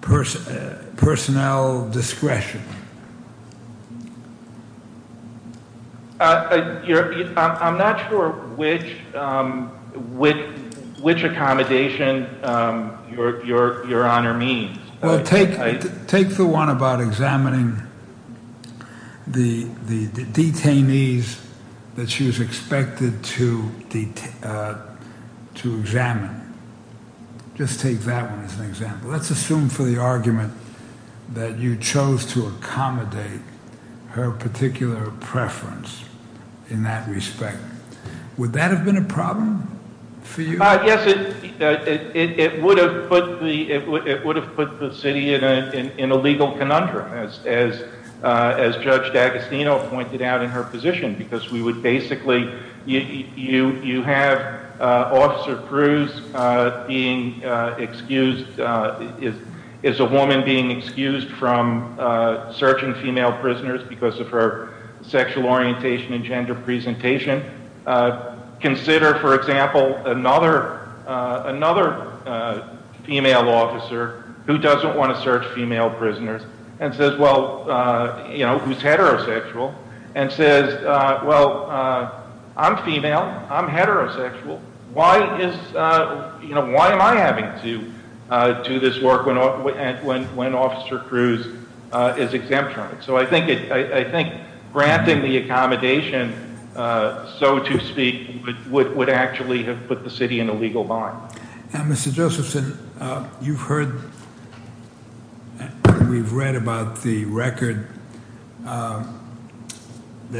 personnel discretion? I'm not sure which accommodation your honor means. Well, take the one about examining the detainees that she was expected to examine. Just take that one as an example. Let's assume for the argument that you chose to accommodate her particular preference in that respect. Would that have been a problem for you? Yes, it would have put the city in a legal conundrum as Judge D'Agostino pointed out in her position. You have Officer Cruz being excused from searching female prisoners because of her sexual orientation and gender presentation. Consider, for example, another female officer who doesn't want to search female prisoners, who's heterosexual, and says, well, I'm female, I'm heterosexual, why am I having to do this work when Officer Cruz is exempt from it? So I think granting the accommodation, so to speak, would actually have put the city in a legal bind. Now, Mr. Josephson, you've heard, we've read about the record that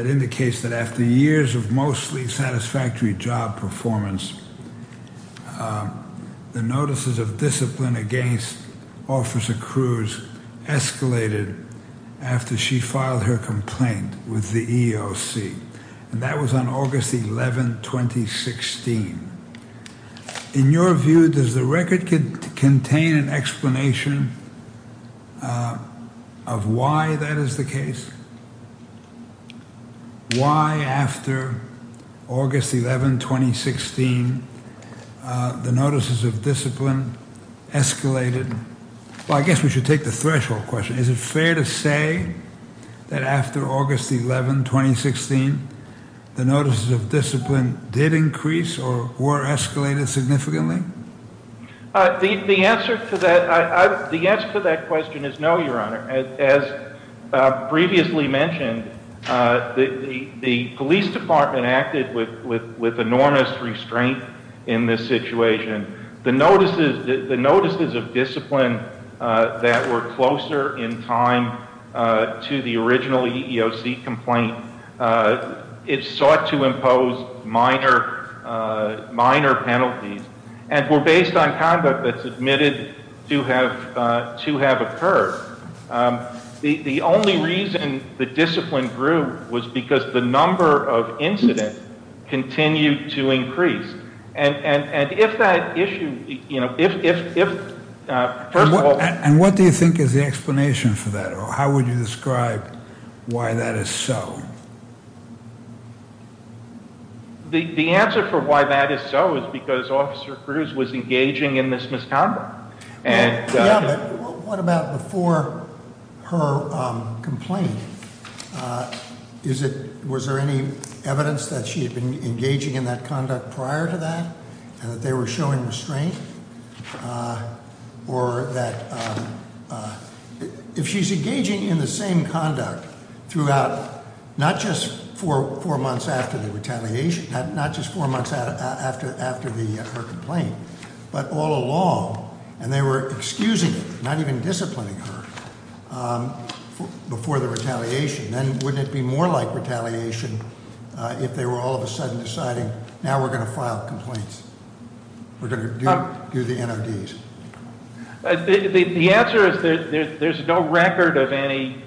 indicates that after years of mostly satisfactory job performance, the notices of discipline against Officer Cruz escalated after she filed her complaint with the EEOC, and that was on August 11, 2016. In your view, does the record contain an explanation of why that is the case? Why after August 11, 2016, the notices of discipline escalated? Well, I guess we should take the threshold question. Is it fair to say that after August 11, 2016, the notices of discipline did increase or were escalated significantly? The answer to that question is no, Your Honor. As previously mentioned, the police department acted with enormous restraint in this situation. The notices of discipline that were closer in time to the original EEOC complaint, it sought to impose minor penalties and were based on conduct that's admitted to have occurred. The only reason the discipline grew was because the number of incidents continued to increase. And if that issue, you know, if first of all... And what do you think is the explanation for that? Or how would you describe why that is so? The answer for why that is so is because Officer Cruz was engaging in this misconduct. Yeah, but what about before her complaint? Was there any evidence that she was engaging in the same conduct throughout, not just four months after the retaliation, not just four months after her complaint, but all along? And they were excusing her, not even disciplining her before the retaliation. Then wouldn't it be more like retaliation if they were all of a sudden deciding, now we're going to file complaints? We're going to do the NODs? The answer is that there's no record of any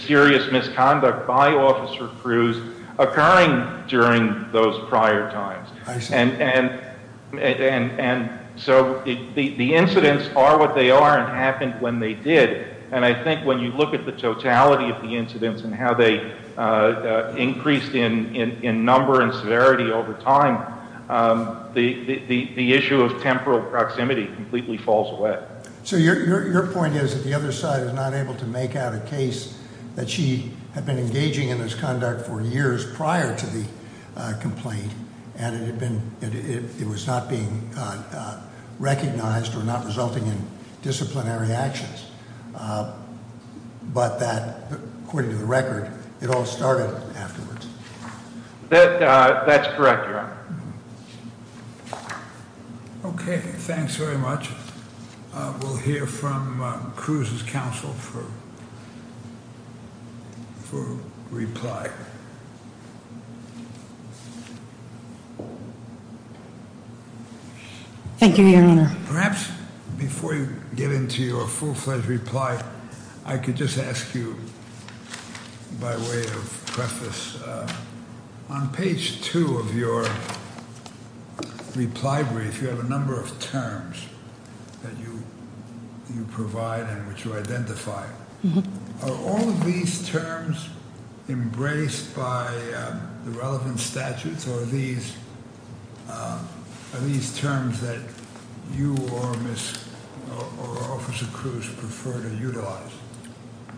serious misconduct by Officer Cruz occurring during those prior times. And so the incidents are what they are and happened when they did. And I think when you look at the totality of the incidents and how they increased in number and severity over time, the issue of temporal proximity completely falls away. So your point is that the other side is not able to make out a case that she had been engaging in this conduct for years prior to the complaint and it was not being recognized or not being investigated. But that, according to the record, it all started afterwards. That's correct, Your Honor. Okay, thanks very much. We'll hear from Cruz's counsel for reply. Thank you, Your Honor. Perhaps before you get into your full-fledged reply, I could just ask you, by way of preface, on page two of your reply brief, you have a number of terms that you provide and which identify. Are all of these terms embraced by the relevant statutes or are these terms that you or Officer Cruz prefer to utilize?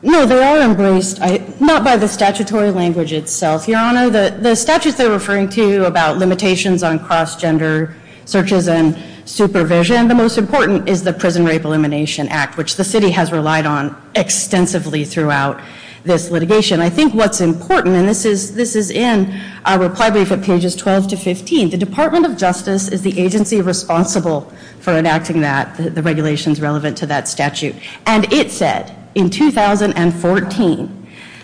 No, they are embraced, not by the statutory language itself, Your Honor. The statutes they're referring to about limitations on cross-gender searches and supervision. The most important is the Prison Rape Elimination Act, which the city has relied on extensively throughout this litigation. I think what's important, and this is in our reply brief at pages 12 to 15, the Department of Justice is the agency responsible for enacting that, the regulations relevant to that statute. And it said in 2014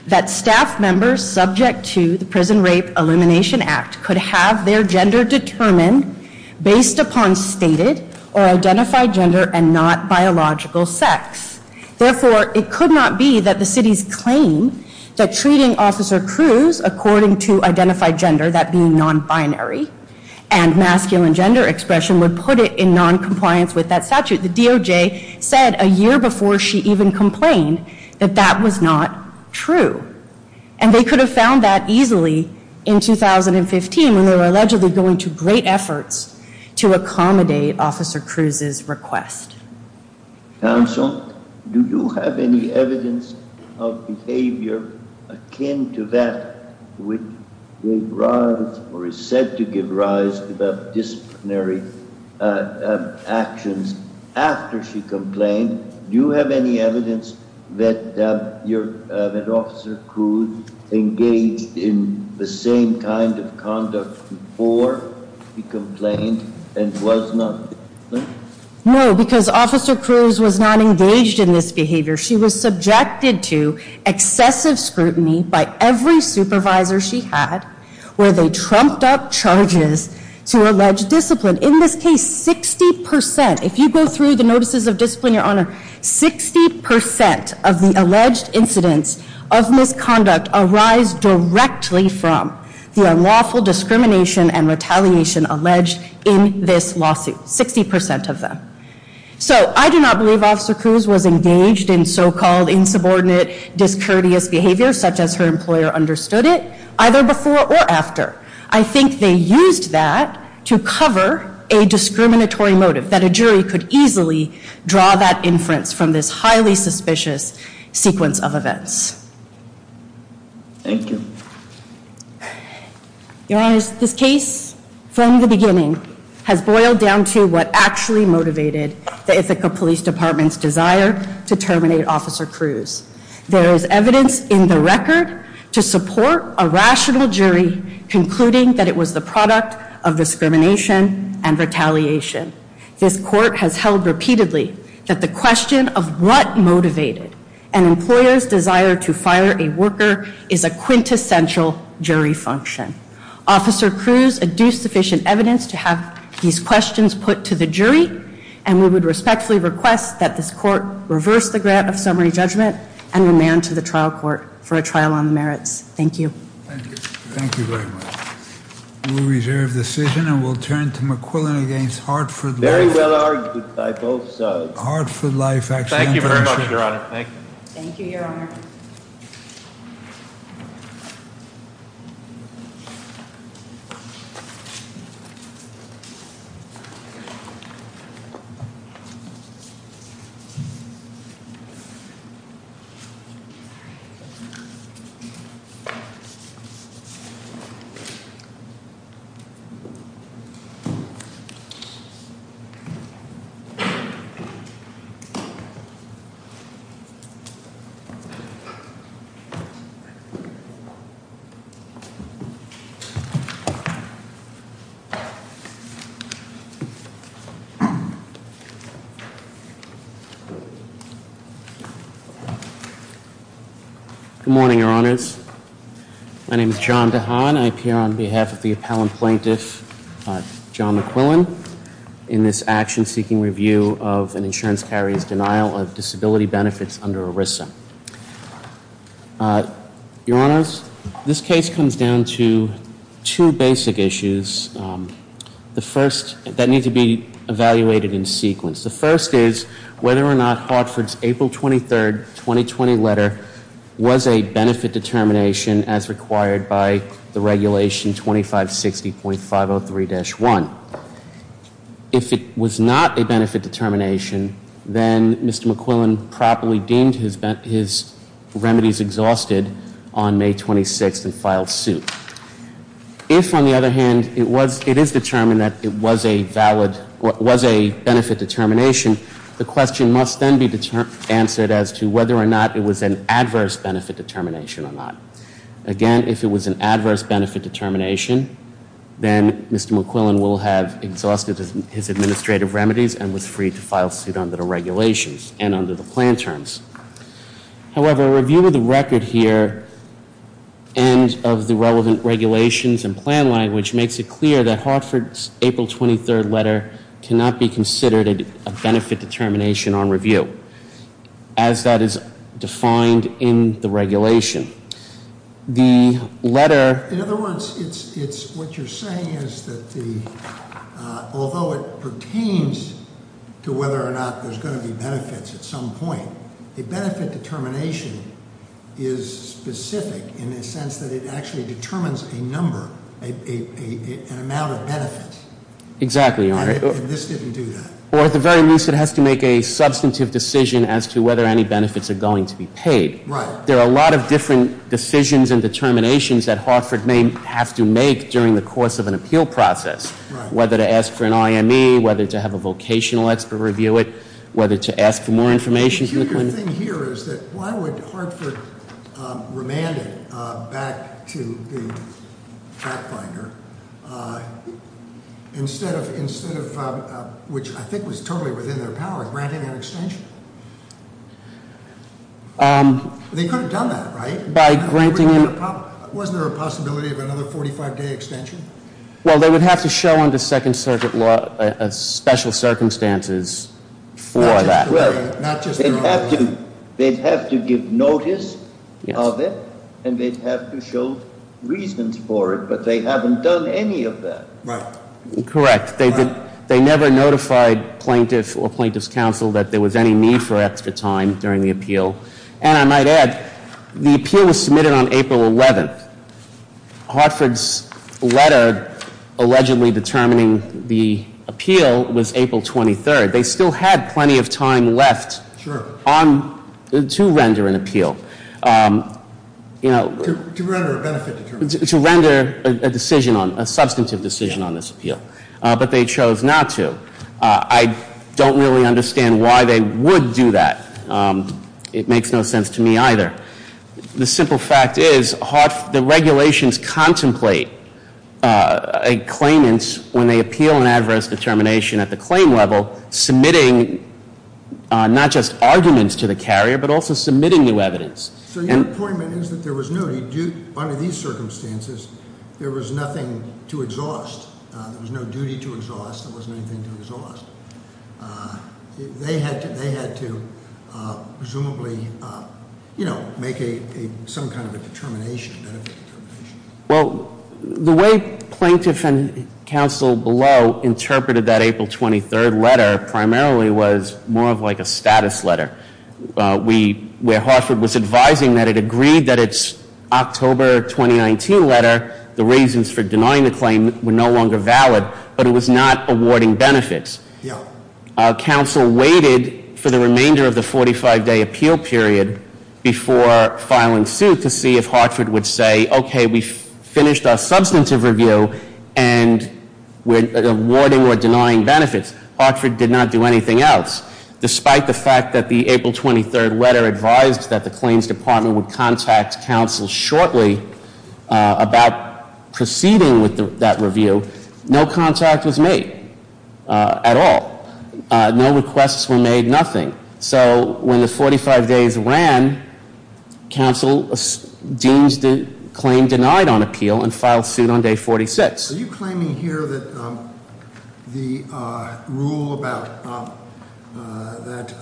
that staff members subject to the Prison Rape Elimination Act could have their gender determined based upon stated or identified gender and not biological sex. Therefore, it could not be that the city's claim that treating Officer Cruz according to identified gender, that being non-binary and masculine gender expression, would put it in non-compliance with that statute. The DOJ said a year before she even complained that that was not true. And they could have found that request. Counsel, do you have any evidence of behavior akin to that which gave rise or is said to give rise to disciplinary actions after she complained? Do you have any evidence that Officer Cruz engaged in the same kind of conduct before he complained and was not? No, because Officer Cruz was not engaged in this behavior. She was subjected to excessive scrutiny by every supervisor she had where they trumped up charges to allege discipline. In this case, 60 percent, if you go through the notices of discipline, Your Honor, 60 percent of the alleged incidents of misconduct arise directly from the unlawful discrimination and So I do not believe Officer Cruz was engaged in so-called insubordinate, discourteous behavior such as her employer understood it, either before or after. I think they used that to cover a discriminatory motive that a jury could easily draw that inference from this highly suspicious sequence of events. Thank you. Your Honor, this case, from the beginning, has boiled down to what actually motivated the Ithaca Police Department's desire to terminate Officer Cruz. There is evidence in the record to support a rational jury concluding that it was the product of discrimination and retaliation. This court has held repeatedly that the question of what motivated an employer's desire to fire a worker is a quintessential jury function. Officer Cruz adduced sufficient evidence to have these questions put to the jury and we would respectfully request that this court reverse the grant of summary judgment and remand to the trial court for a trial on the merits. Thank you. Thank you. Thank you very much. We reserve the decision and we'll turn to McQuillan against Hartford. Very well argued by both sides. Hartford Life Thank you very much, Your Honor. Thank you. Thank you, Your Honor. Good morning, Your Honors. My name is John DeHaan. I appear on behalf of the appellant plaintiff, John McQuillan, in this action-seeking review of an insurance carrier's denial of disability benefits under ERISA. Your Honors, this case comes down to two basic issues. The first that need to be evaluated in sequence. The first is whether or not Hartford's April 23, 2020 letter was a benefit determination as required by the regulation 2560.503-1. If it was not a benefit determination, then Mr. McQuillan properly deemed his remedies exhausted on May 26 and filed suit. If, on the other hand, it is determined that it was a benefit determination, the question must then be answered as to whether or not it was an adverse benefit determination or not. Again, if it was an adverse benefit determination, then Mr. McQuillan will have exhausted his administrative remedies and was free to file suit under the regulations and under the plan terms. However, a review of the record here and of the relevant regulations and plan language makes it clear that Hartford's April 23 letter cannot be considered a benefit determination on review as that is defined in the regulation. The letter- In other words, what you're saying is that although it pertains to whether or not there's going to be benefits at some point, a benefit determination is specific in the sense that it actually determines a number, an amount of benefits. Exactly, Your Honor. And this didn't do that. Or at the very least, it has to make a substantive decision as to whether any benefits are going to be paid. Right. There are a lot of different decisions and determinations that Hartford may have to make during the course of an appeal process. Right. Whether to ask for an IME, whether to have a vocational expert review it, whether to ask for more information from the clinic. The weird thing here is that why would Hartford remand it back to the fact finder, instead of, which I think was totally within their power, granting an extension? They could have done that, right? By granting- Wasn't there a possibility of another 45 day extension? Well, they would have to show under Second Circuit law special circumstances for that. Well, they'd have to give notice of it, and they'd have to show reasons for it. But they haven't done any of that. Right. Correct. They never notified plaintiff or plaintiff's counsel that there was any need for extra time during the appeal. And I might add, the appeal was submitted on April 11th. Hartford's letter allegedly determining the appeal was April 23rd. They still had plenty of time left to render an appeal. To render a benefit determination. To render a decision on, a substantive decision on this appeal. But they chose not to. I don't really understand why they would do that. It makes no sense to me either. The simple fact is, the regulations contemplate a claimant, when they appeal an adverse determination at the claim level, submitting not just arguments to the carrier, but also submitting new evidence. So your point is that there was no, under these circumstances, there was nothing to exhaust. There was no duty to exhaust, there wasn't anything to exhaust. They had to presumably make some kind of a determination, a benefit determination. Well, the way plaintiff and counsel below interpreted that April 23rd letter primarily was more of like a status letter. We, where Hartford was advising that it agreed that it's October 2019 letter, the reasons for denying the claim were no longer valid, but it was not awarding benefits. Yeah. Our counsel waited for the remainder of the 45 day appeal period before filing suit to see if Hartford would say, okay, we've finished our substantive review and we're awarding or denying benefits. Hartford did not do anything else. Despite the fact that the April 23rd letter advised that the claims department would contact counsel shortly about proceeding with that review, no contact was made at all. No requests were made, nothing. So when the 45 days ran, counsel deems the claim denied on appeal and filed suit on day 46. Are you claiming here that the rule about, that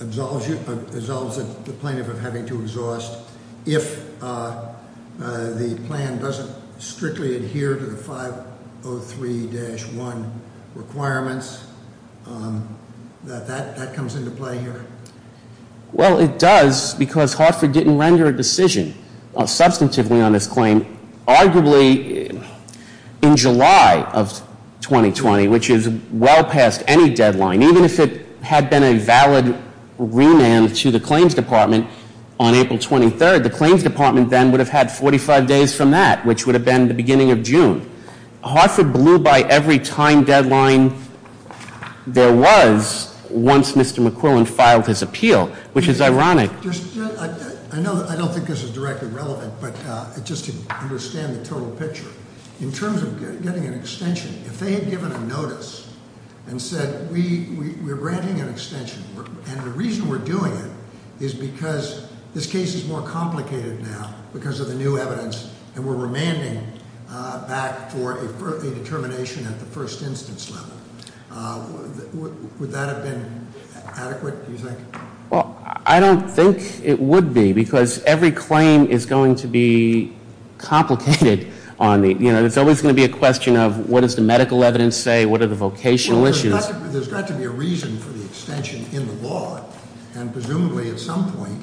absolves the plaintiff of having to exhaust if the plan doesn't strictly adhere to the 503-1 requirements? That that comes into play here? Well, it does, because Hartford didn't render a decision substantively on this claim. Arguably, in July of 2020, which is well past any deadline, even if it had been a valid remand to the claims department on April 23rd, the claims department then would have had 45 days from that, which would have been the beginning of June. Hartford blew by every time deadline there was once Mr. McQuillan filed his appeal, which is ironic. I don't think this is directly relevant, but just to understand the total picture. In terms of getting an extension, if they had given a notice and said, we're granting an extension. And the reason we're doing it is because this case is more complicated now because of the new evidence. And we're remanding back for a determination at the first instance level. Would that have been adequate, do you think? Well, I don't think it would be, because every claim is going to be complicated on the, it's always going to be a question of what does the medical evidence say, what are the vocational issues? There's got to be a reason for the extension in the law. And presumably, at some point,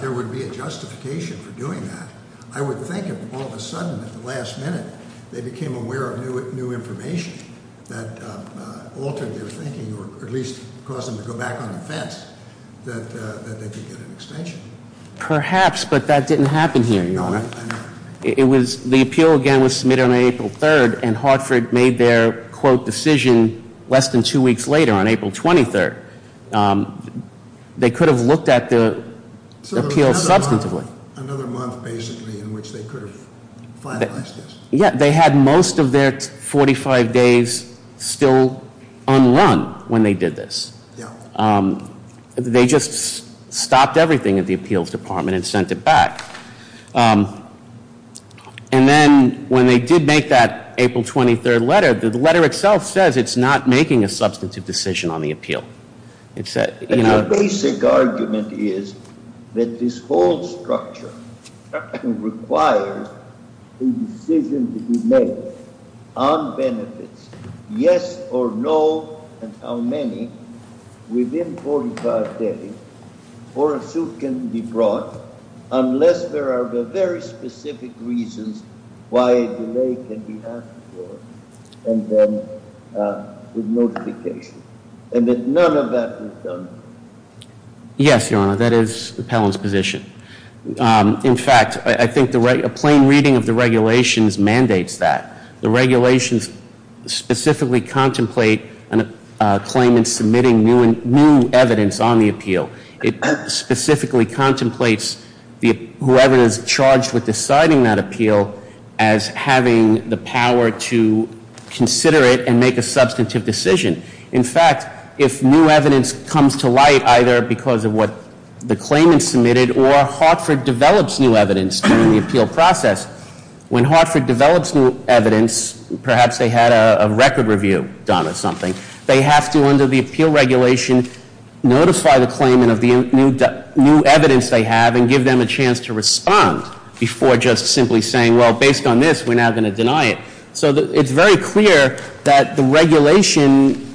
there would be a justification for doing that. I would think if all of a sudden, at the last minute, they became aware of new information that altered their thinking, or at least caused them to go back on the fence, that they could get an extension. Perhaps, but that didn't happen here, Your Honor. The appeal, again, was submitted on April 3rd, and Hartford made their, quote, decision less than two weeks later, on April 23rd. They could have looked at the appeal substantively. Another month, basically, in which they could have finalized this. Yeah, they had most of their 45 days still unrun when they did this. Yeah. They just stopped everything at the appeals department and sent it back. And then, when they did make that April 23rd letter, the letter itself says it's not making a substantive decision on the appeal. It's that- And the basic argument is that this whole structure requires a decision to be made on benefits. Yes or no, and how many, within 45 days, or a suit can be brought, unless there are very specific reasons why a delay can be asked for, and then with notification. And then none of that is done. Yes, Your Honor, that is the appellant's position. In fact, I think a plain reading of the regulations mandates that. The regulations specifically contemplate a claim in submitting new evidence on the appeal. It specifically contemplates whoever is charged with deciding that appeal as having the power to consider it and make a substantive decision. In fact, if new evidence comes to light, either because of what the claimant submitted, or Hartford develops new evidence during the appeal process. When Hartford develops new evidence, perhaps they had a record review done or something. They have to, under the appeal regulation, notify the claimant of the new evidence they have and give them a chance to respond before just simply saying, well, based on this, we're not going to deny it. So it's very clear that the regulation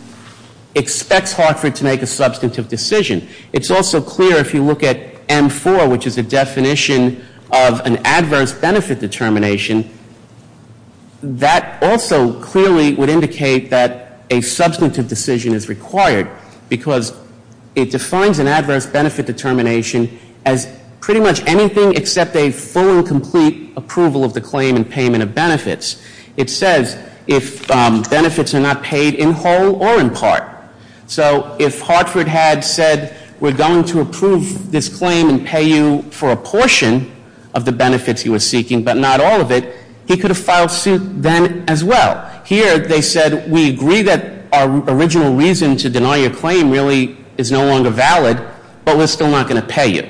expects Hartford to make a substantive decision. It's also clear if you look at M4, which is a definition of an adverse benefit determination, that also clearly would indicate that a substantive decision is required. Because it defines an adverse benefit determination as pretty much anything except a full and it says if benefits are not paid in whole or in part. So if Hartford had said, we're going to approve this claim and pay you for a portion of the benefits he was seeking, but not all of it, he could have filed suit then as well. Here, they said, we agree that our original reason to deny your claim really is no longer valid, but we're still not going to pay you,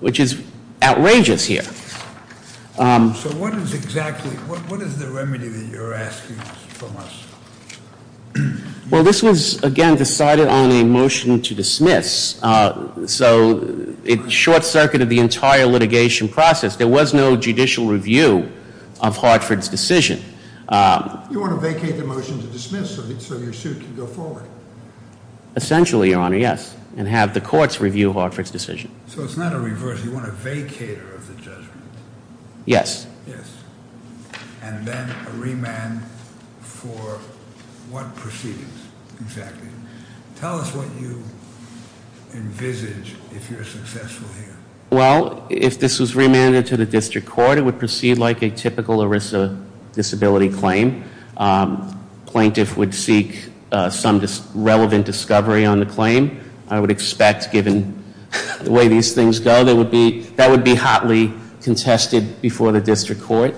which is outrageous here. So what is exactly, what is the remedy that you're asking from us? Well, this was, again, decided on a motion to dismiss. So it short-circuited the entire litigation process. There was no judicial review of Hartford's decision. You want to vacate the motion to dismiss so your suit can go forward? Essentially, your honor, yes, and have the courts review Hartford's decision. So it's not a reverse, you want a vacater of the judgment? Yes. Yes. And then a remand for what proceedings, exactly? Tell us what you envisage if you're successful here. Well, if this was remanded to the district court, it would proceed like a typical ERISA disability claim. Plaintiff would seek some relevant discovery on the claim. I would expect, given the way these things go, that would be hotly contested before the district court,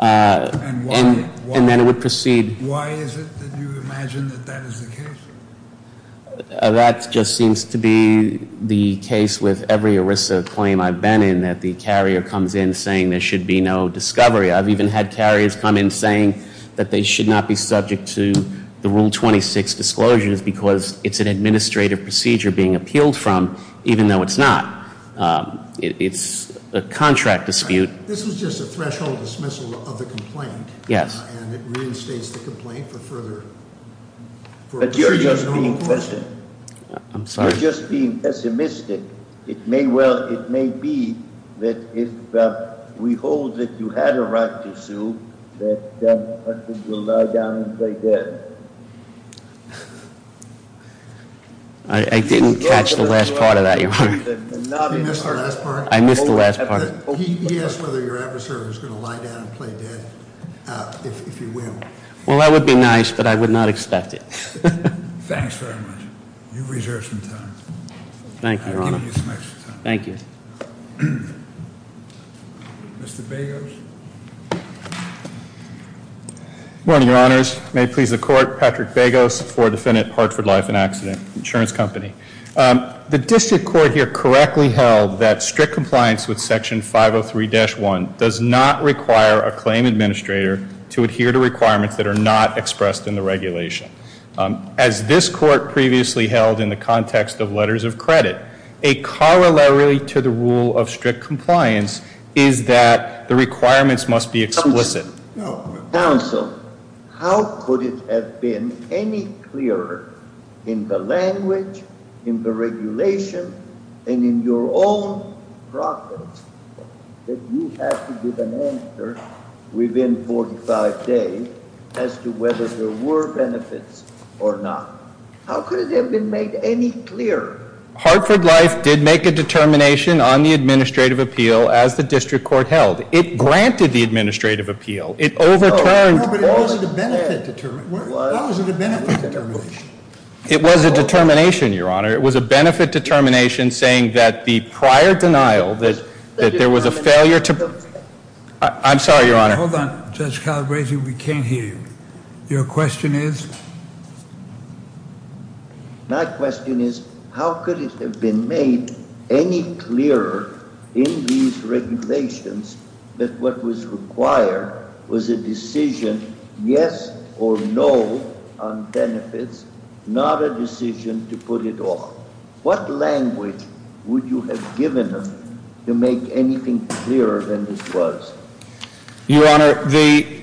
and then it would proceed. Why is it that you imagine that that is the case? That just seems to be the case with every ERISA claim I've been in, that the carrier comes in saying there should be no discovery. I've even had carriers come in saying that they should not be subject to the Rule 26 disclosures because it's an administrative procedure being appealed from, even though it's not. It's a contract dispute. This was just a threshold dismissal of the complaint. Yes. And it reinstates the complaint for further. But you're just being pessimistic. I'm sorry? You're just being pessimistic. It may well, it may be that if we hold that you had a right to sue, that you'll lie down and play dead. I didn't catch the last part of that, your honor. You missed the last part? I missed the last part. He asked whether your adversary was going to lie down and play dead, if you will. Well, that would be nice, but I would not expect it. Thanks very much. You've reserved some time. Thank you, your honor. Thank you. Mr. Begos? Good morning, your honors. May it please the court, Patrick Begos for defendant Hartford Life and Accident Insurance Company. The district court here correctly held that strict compliance with section 503-1 does not require a claim administrator to adhere to requirements that are not expressed in the regulation. As this court previously held in the context of letters of credit, a corollary to the rule of strict compliance is that the requirements must be explicit. Counsel, how could it have been any clearer in the language, in the regulation, and in your own profits that you have to give an answer within 45 days as to whether there were benefits or not? How could it have been made any clearer? Hartford Life did make a determination on the administrative appeal as the district court held. It granted the administrative appeal. It overturned- No, but it wasn't a benefit determination. Why was it a benefit determination? It was a determination, your honor. It was a benefit determination saying that the prior denial that there was a failure to- I'm sorry, your honor. Hold on, Judge Calabresi, we can't hear you. Your question is? My question is, how could it have been made any clearer in these regulations that what was required was a decision yes or no on benefits, not a decision to put it off? What language would you have given them to make anything clearer than this was? Your honor, the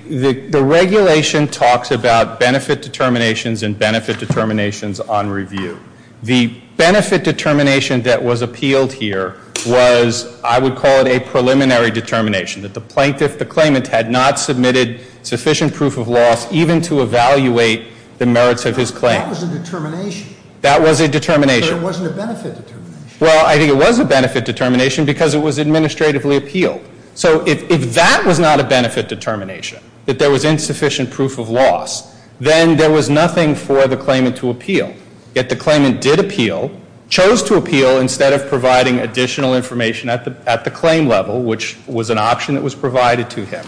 regulation talks about benefit determinations and benefit determinations on review. The benefit determination that was appealed here was, I would call it a preliminary determination, that the plaintiff, the claimant, had not submitted sufficient proof of loss even to evaluate the merits of his claim. That was a determination. That was a determination. But it wasn't a benefit determination. Well, I think it was a benefit determination because it was administratively appealed. So if that was not a benefit determination, that there was insufficient proof of loss, then there was nothing for the claimant to appeal. Yet the claimant did appeal, chose to appeal instead of providing additional information at the claim level, which was an option that was provided to him,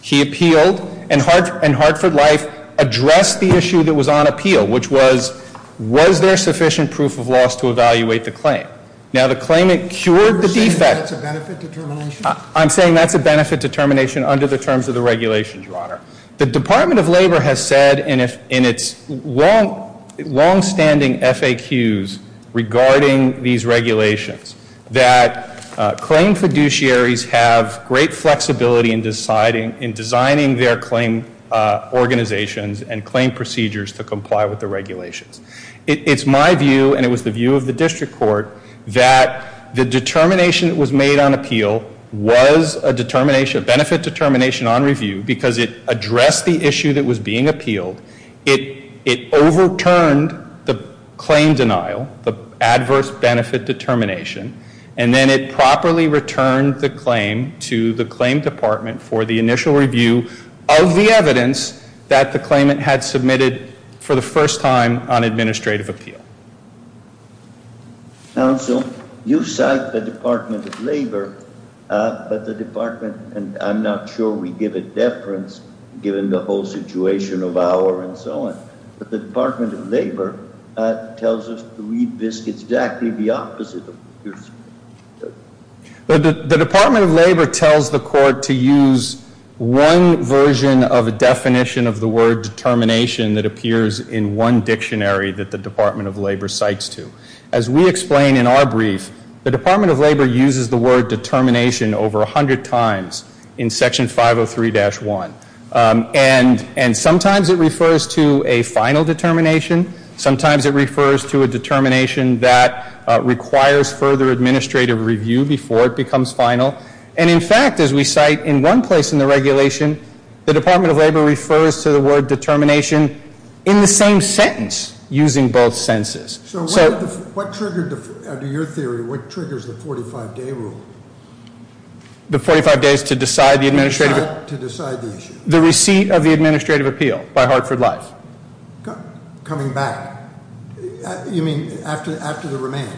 he appealed. And Hartford Life addressed the issue that was on appeal, which was, was there sufficient proof of loss to evaluate the claim? Now the claimant cured the defect. You're saying that's a benefit determination? I'm saying that's a benefit determination under the terms of the regulations, your honor. The Department of Labor has said in its longstanding FAQs regarding these regulations that claim fiduciaries have great flexibility in designing their claim organizations and claim procedures to comply with the regulations. It's my view, and it was the view of the district court, that the determination that was made on appeal was a benefit determination on review because it addressed the issue that was being appealed. It overturned the claim denial, the adverse benefit determination. And then it properly returned the claim to the claim department for the initial review of the evidence that the claimant had submitted for the first time on administrative appeal. Counsel, you cite the Department of Labor, but the department, and I'm not sure we give a deference given the whole situation of our and so on. But the Department of Labor tells us to read this exactly the opposite of yours. The Department of Labor tells the court to use one version of a definition of the word determination that appears in one dictionary that the Department of Labor cites to. As we explain in our brief, the Department of Labor uses the word determination over 100 times in section 503-1. And sometimes it refers to a final determination. Sometimes it refers to a determination that requires further administrative review before it becomes final. And in fact, as we cite in one place in the regulation, the Department of Labor refers to the word determination in the same sentence using both senses. So- What triggered, under your theory, what triggers the 45 day rule? The 45 days to decide the administrative- To decide the issue. The receipt of the administrative appeal by Hartford Life. Coming back. You mean after the remand?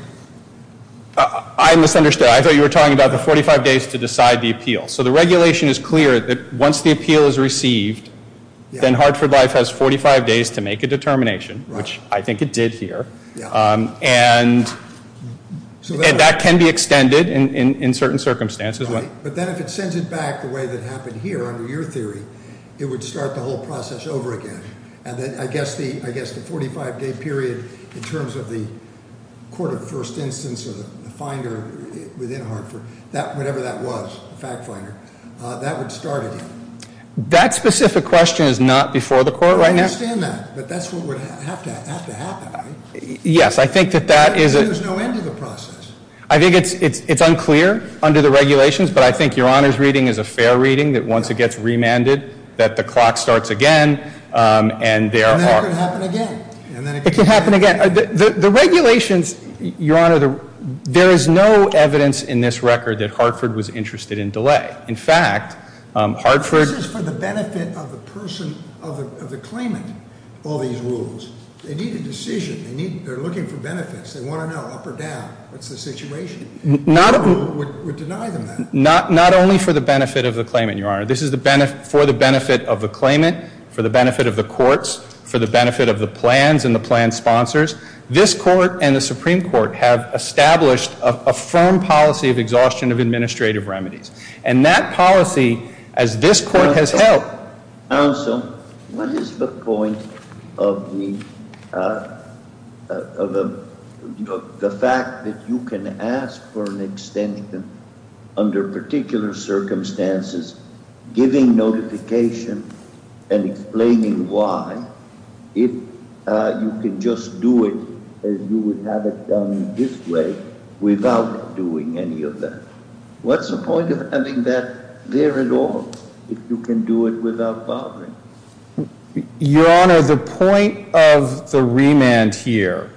I misunderstood. I thought you were talking about the 45 days to decide the appeal. So the regulation is clear that once the appeal is received, then Hartford Life has 45 days to make a determination, which I think it did here. And that can be extended in certain circumstances. But then if it sends it back the way that happened here, under your theory, it would start the whole process over again. And then I guess the 45 day period in terms of the court of first instance or the finder within Hartford, whatever that was, the fact finder, that would start again. That specific question is not before the court right now. I understand that, but that's what would have to happen, right? Yes, I think that that is- So there's no end to the process. I think it's unclear under the regulations, but I think your honor's reading is a fair reading that once it gets remanded, that the clock starts again. And there are- And then it can happen again. It can happen again. The regulations, your honor, there is no evidence in this record that Hartford was interested in delay. In fact, Hartford- This is for the benefit of the person, of the claimant, all these rules. They need a decision. They're looking for benefits. They want to know up or down. That's the situation. No one would deny them that. Not only for the benefit of the claimant, your honor. This is for the benefit of the claimant, for the benefit of the courts, for the benefit of the plans and the plan sponsors. This court and the Supreme Court have established a firm policy of exhaustion of administrative remedies. And that policy, as this court has held- What is the point of the fact that you can ask for an extension under particular circumstances, giving notification, and explaining why, if you can just do it as you would have it done this way without doing any of that? What's the point of having that there at all, if you can do it without bothering? Your honor, the point of the remand here,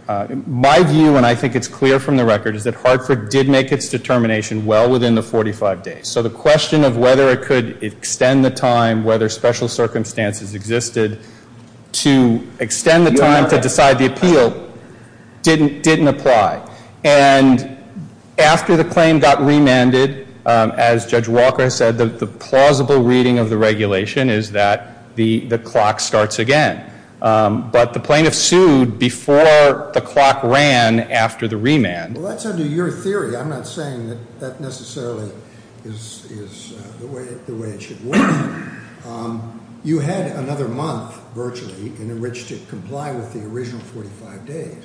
my view, and I think it's clear from the record, is that Hartford did make its determination well within the 45 days. So the question of whether it could extend the time, whether special circumstances existed to extend the time to decide the appeal didn't apply. And after the claim got remanded, as Judge Walker said, the plausible reading of the regulation is that the clock starts again. But the plaintiff sued before the clock ran after the remand. Well, that's under your theory. I'm not saying that that necessarily is the way it should work. You had another month, virtually, in which to comply with the original 45 days.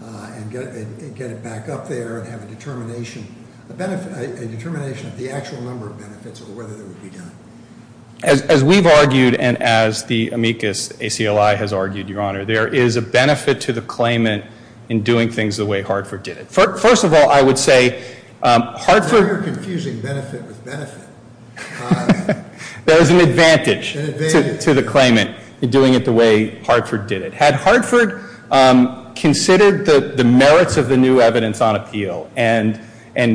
And get it back up there and have a determination of the actual number of benefits or whether they would be done. As we've argued and as the amicus ACLI has argued, your honor, there is a benefit to the claimant in doing things the way Hartford did it. First of all, I would say, Hartford- Now you're confusing benefit with benefit. There is an advantage to the claimant in doing it the way Hartford did it. Had Hartford considered the merits of the new evidence on appeal and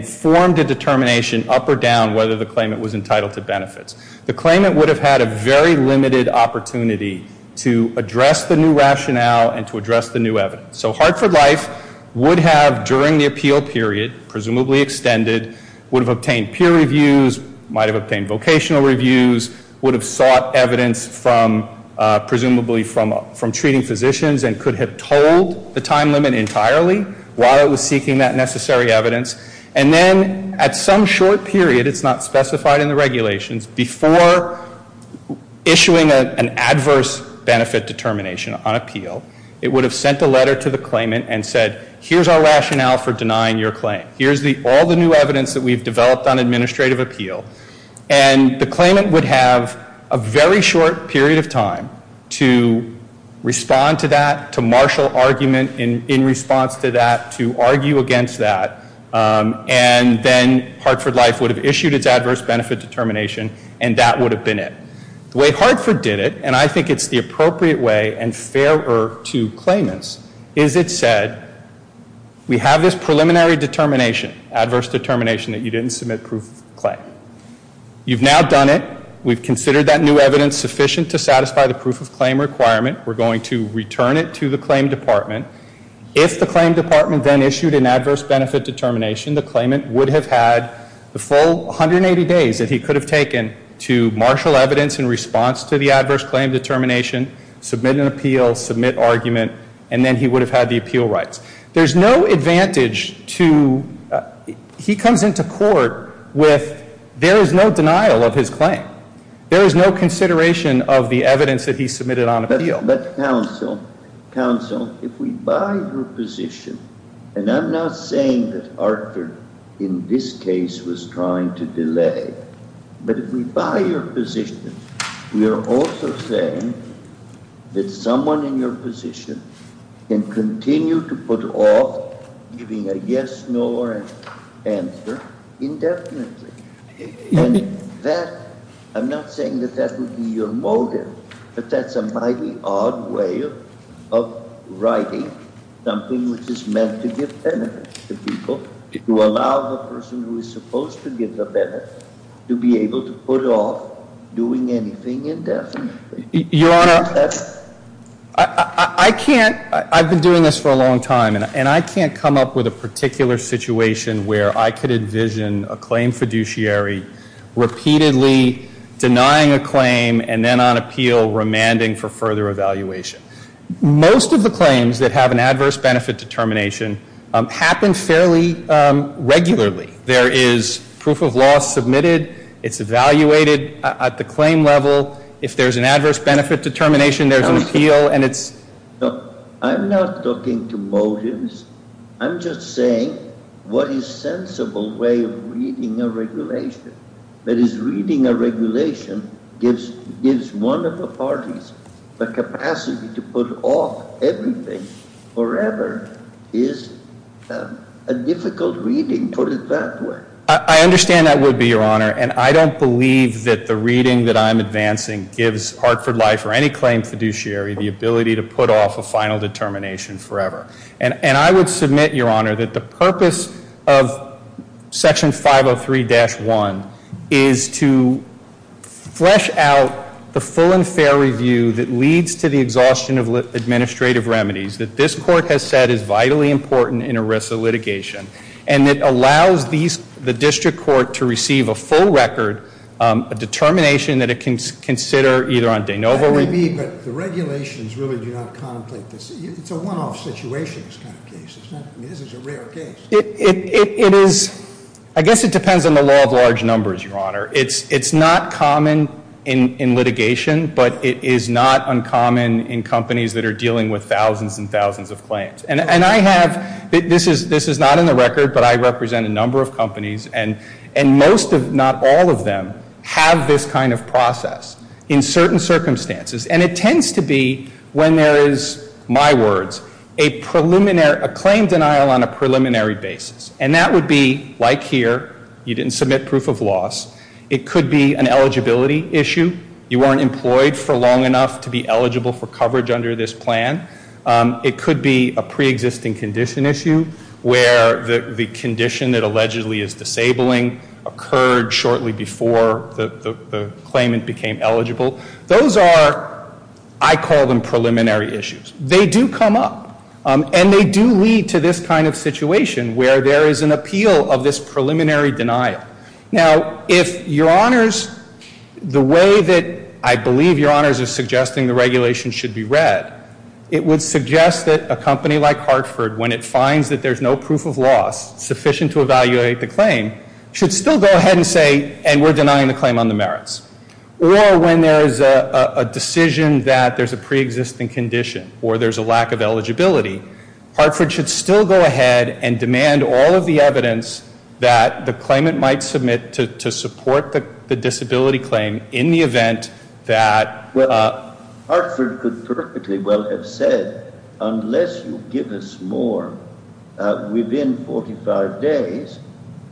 formed a determination up or down whether the claimant was entitled to benefits, the claimant would have had a very limited opportunity to address the new rationale and to address the new evidence. So Hartford Life would have, during the appeal period, presumably extended, would have obtained peer reviews, might have obtained vocational reviews, would have sought evidence from presumably from treating physicians and could have told the time limit entirely while it was seeking that necessary evidence. And then at some short period, it's not specified in the regulations, before issuing an adverse benefit determination on appeal, it would have sent a letter to the claimant and said, here's our rationale for denying your claim. Here's all the new evidence that we've developed on administrative appeal. And the claimant would have a very short period of time to respond to that, to marshal argument in response to that, to argue against that. And then Hartford Life would have issued its adverse benefit determination, and that would have been it. The way Hartford did it, and I think it's the appropriate way and fairer to claimants, is it said, we have this preliminary determination, adverse determination that you didn't submit proof of claim. You've now done it. We've considered that new evidence sufficient to satisfy the proof of claim requirement. We're going to return it to the claim department. If the claim department then issued an adverse benefit determination, the claimant would have had the full 180 days that he could have taken to marshal evidence in response to the adverse claim determination. Submit an appeal, submit argument, and then he would have had the appeal rights. There's no advantage to, he comes into court with, there is no denial of his claim. There is no consideration of the evidence that he submitted on appeal. But counsel, counsel, if we buy your position, and I'm not saying that Hartford, in this case, was trying to delay. But if we buy your position, we are also saying that someone in your position can continue to put off giving a yes, no, or an answer indefinitely. And that, I'm not saying that that would be your motive, but that's a mighty odd way of writing something which is meant to give benefit to people. To allow the person who is supposed to give the benefit to be able to put off doing anything indefinitely. Your Honor, I can't, I've been doing this for a long time. And I can't come up with a particular situation where I could envision a claim fiduciary repeatedly denying a claim and then on appeal remanding for further evaluation. Most of the claims that have an adverse benefit determination happen fairly regularly. There is proof of loss submitted, it's evaluated at the claim level. If there's an adverse benefit determination, there's an appeal and it's- No, I'm not talking to motives. I'm just saying, what is sensible way of reading a regulation? That is, reading a regulation gives one of the parties the capacity to put off everything forever is a difficult reading put it that way. I understand that would be, Your Honor, and I don't believe that the reading that I'm advancing gives Hartford Life or any claim fiduciary the ability to put off a final determination forever. And I would submit, Your Honor, that the purpose of section 503-1 is to flesh out the full and fair review that leads to the exhaustion of administrative remedies that this court has said is vitally important in ERISA litigation. And it allows the district court to receive a full record, a determination that it can consider either on de novo- That may be, but the regulations really do not contemplate this. It's a one-off situation, this kind of case, I mean, this is a rare case. It is, I guess it depends on the law of large numbers, Your Honor. It's not common in litigation, but it is not uncommon in companies that are dealing with thousands and thousands of claims. And I have, this is not in the record, but I represent a number of companies and most, if not all of them, have this kind of process in certain circumstances. And it tends to be, when there is, my words, a claim denial on a preliminary basis. And that would be, like here, you didn't submit proof of loss. It could be an eligibility issue. You weren't employed for long enough to be eligible for coverage under this plan. It could be a pre-existing condition issue where the condition that allegedly is disabling occurred shortly before the claimant became eligible. Those are, I call them preliminary issues. They do come up, and they do lead to this kind of situation where there is an appeal of this preliminary denial. Now, if Your Honors, the way that I believe Your Honors is suggesting the regulation should be read, it would suggest that a company like Hartford, when it finds that there's no proof of loss sufficient to evaluate the claim, should still go ahead and say, and we're denying the claim on the merits. Or when there is a decision that there's a pre-existing condition or there's a lack of eligibility, Hartford should still go ahead and submit to support the disability claim in the event that- Well, Hartford could perfectly well have said, unless you give us more within 45 days,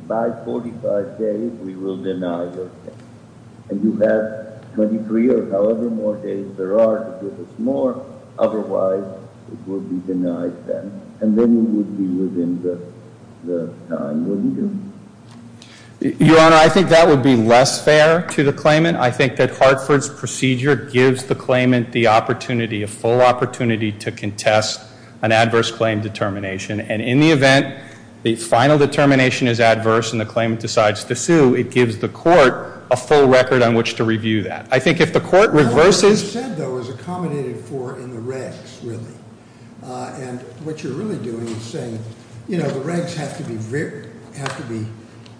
by 45 days we will deny your claim. And you have 23 or however more days there are to give us more. Otherwise, it will be denied then. And then you would be within the time, wouldn't you? Your Honor, I think that would be less fair to the claimant. I think that Hartford's procedure gives the claimant the opportunity, a full opportunity to contest an adverse claim determination. And in the event the final determination is adverse and the claimant decides to sue, it gives the court a full record on which to review that. I think if the court reverses- What you said though is accommodated for in the regs, really. And what you're really doing is saying, the regs have to be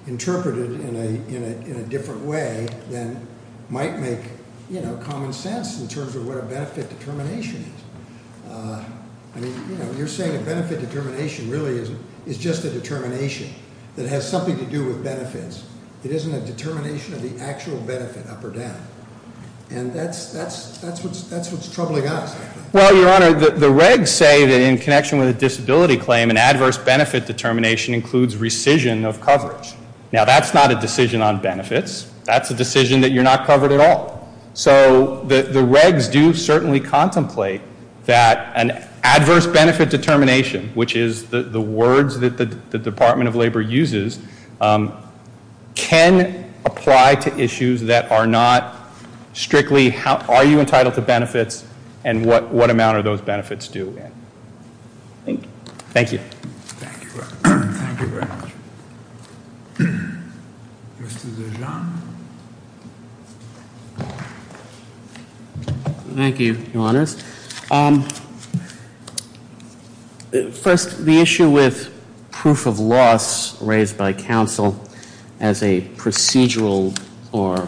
interpreted in a different way than might make common sense in terms of what a benefit determination is. I mean, you're saying a benefit determination really is just a determination that has something to do with benefits. It isn't a determination of the actual benefit up or down. And that's what's troubling us. Well, Your Honor, the regs say that in connection with a disability claim, an adverse benefit determination includes rescission of coverage. Now, that's not a decision on benefits. That's a decision that you're not covered at all. So the regs do certainly contemplate that an adverse benefit determination, which is the words that the Department of Labor uses, can apply to issues that are not strictly, are you entitled to benefits, and what amount are those benefits due in? Thank you. Thank you. Thank you very much. Thank you very much. Mr. DeJean. Thank you, Your Honors. First, the issue with proof of loss raised by counsel as a procedural or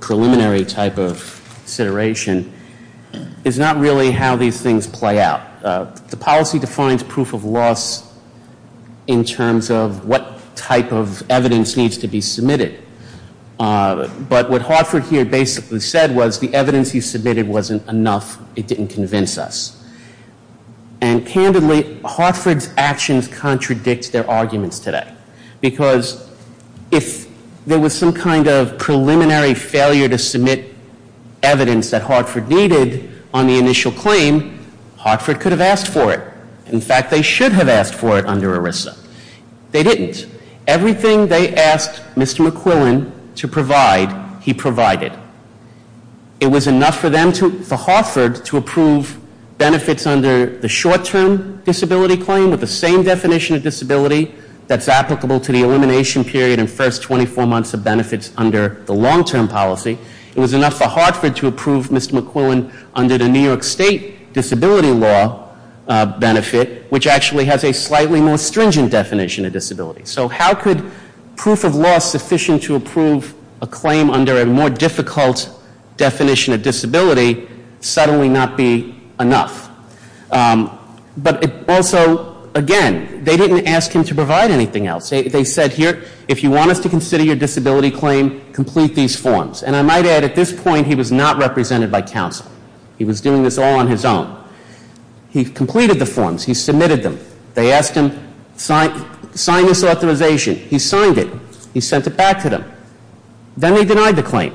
preliminary type of consideration is not really how these things play out. The policy defines proof of loss in terms of what type of evidence needs to be submitted. But what Hartford here basically said was the evidence he submitted wasn't enough, it didn't convince us. And candidly, Hartford's actions contradict their arguments today. Because if there was some kind of preliminary failure to submit evidence that Hartford needed on the initial claim, Hartford could have asked for it. In fact, they should have asked for it under ERISA. They didn't. Everything they asked Mr. McQuillan to provide, he provided. It was enough for Hartford to approve benefits under the short-term disability claim, with the same definition of disability that's applicable to the elimination period and first 24 months of benefits under the long-term policy. It was enough for Hartford to approve Mr. McQuillan under the New York State disability law benefit, which actually has a slightly more stringent definition of disability. So how could proof of loss sufficient to approve a claim under a more difficult definition of disability suddenly not be enough? But also, again, they didn't ask him to provide anything else. They said here, if you want us to consider your disability claim, complete these forms. And I might add, at this point, he was not represented by council. He was doing this all on his own. He completed the forms, he submitted them. They asked him, sign this authorization. He signed it. He sent it back to them. Then he denied the claim.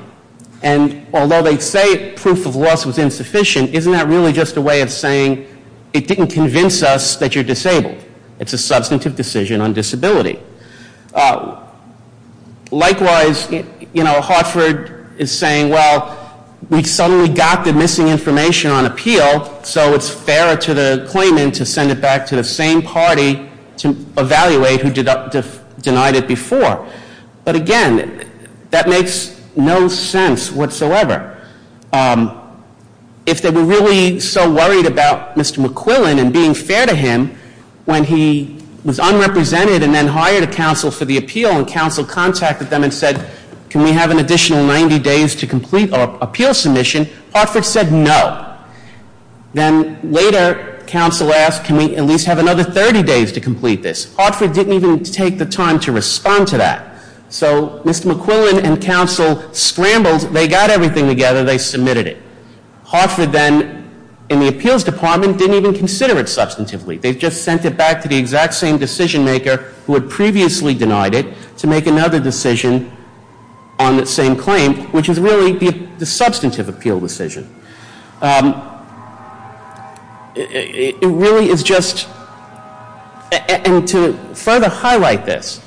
And although they say proof of loss was insufficient, isn't that really just a way of saying it didn't convince us that you're disabled? It's a substantive decision on disability. Likewise, Hartford is saying, well, we suddenly got the missing information on appeal, so it's fairer to the claimant to send it back to the same party to evaluate who denied it before. But again, that makes no sense whatsoever. If they were really so worried about Mr. McQuillan and being fair to him, when he was unrepresented and then hired a council for the appeal, and council contacted them and said, can we have an additional 90 days to complete our appeal submission, Hartford said no. Then later, council asked, can we at least have another 30 days to complete this? Hartford didn't even take the time to respond to that. So, Mr. McQuillan and council scrambled, they got everything together, they submitted it. Hartford then, in the appeals department, didn't even consider it substantively. They just sent it back to the exact same decision maker who had previously denied it to make another decision on the same claim, which is really the substantive appeal decision. It really is just, and to further highlight this,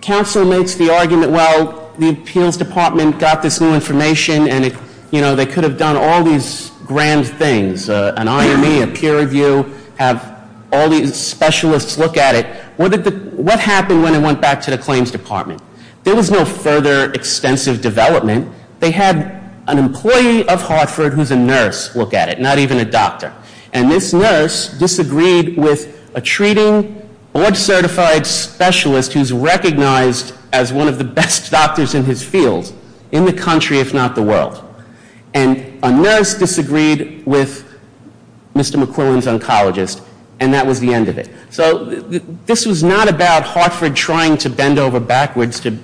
council makes the argument, well, the appeals department got this new information and they could have done all these grand things, an IME, a peer review, have all these specialists look at it. What happened when it went back to the claims department? There was no further extensive development. They had an employee of Hartford who's a nurse look at it, not even a doctor. And this nurse disagreed with a treating board certified specialist who's recognized as one of the best doctors in his field, in the country if not the world. And a nurse disagreed with Mr. McQuillan's oncologist, and that was the end of it. So this was not about Hartford trying to bend over backwards to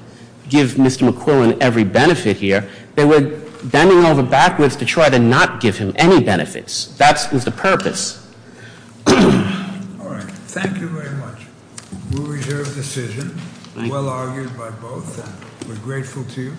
give Mr. McQuillan every benefit here. They were bending over backwards to try to not give him any benefits. That was the purpose. All right, thank you very much. We'll reserve the decision, well argued by both, and we're grateful to you.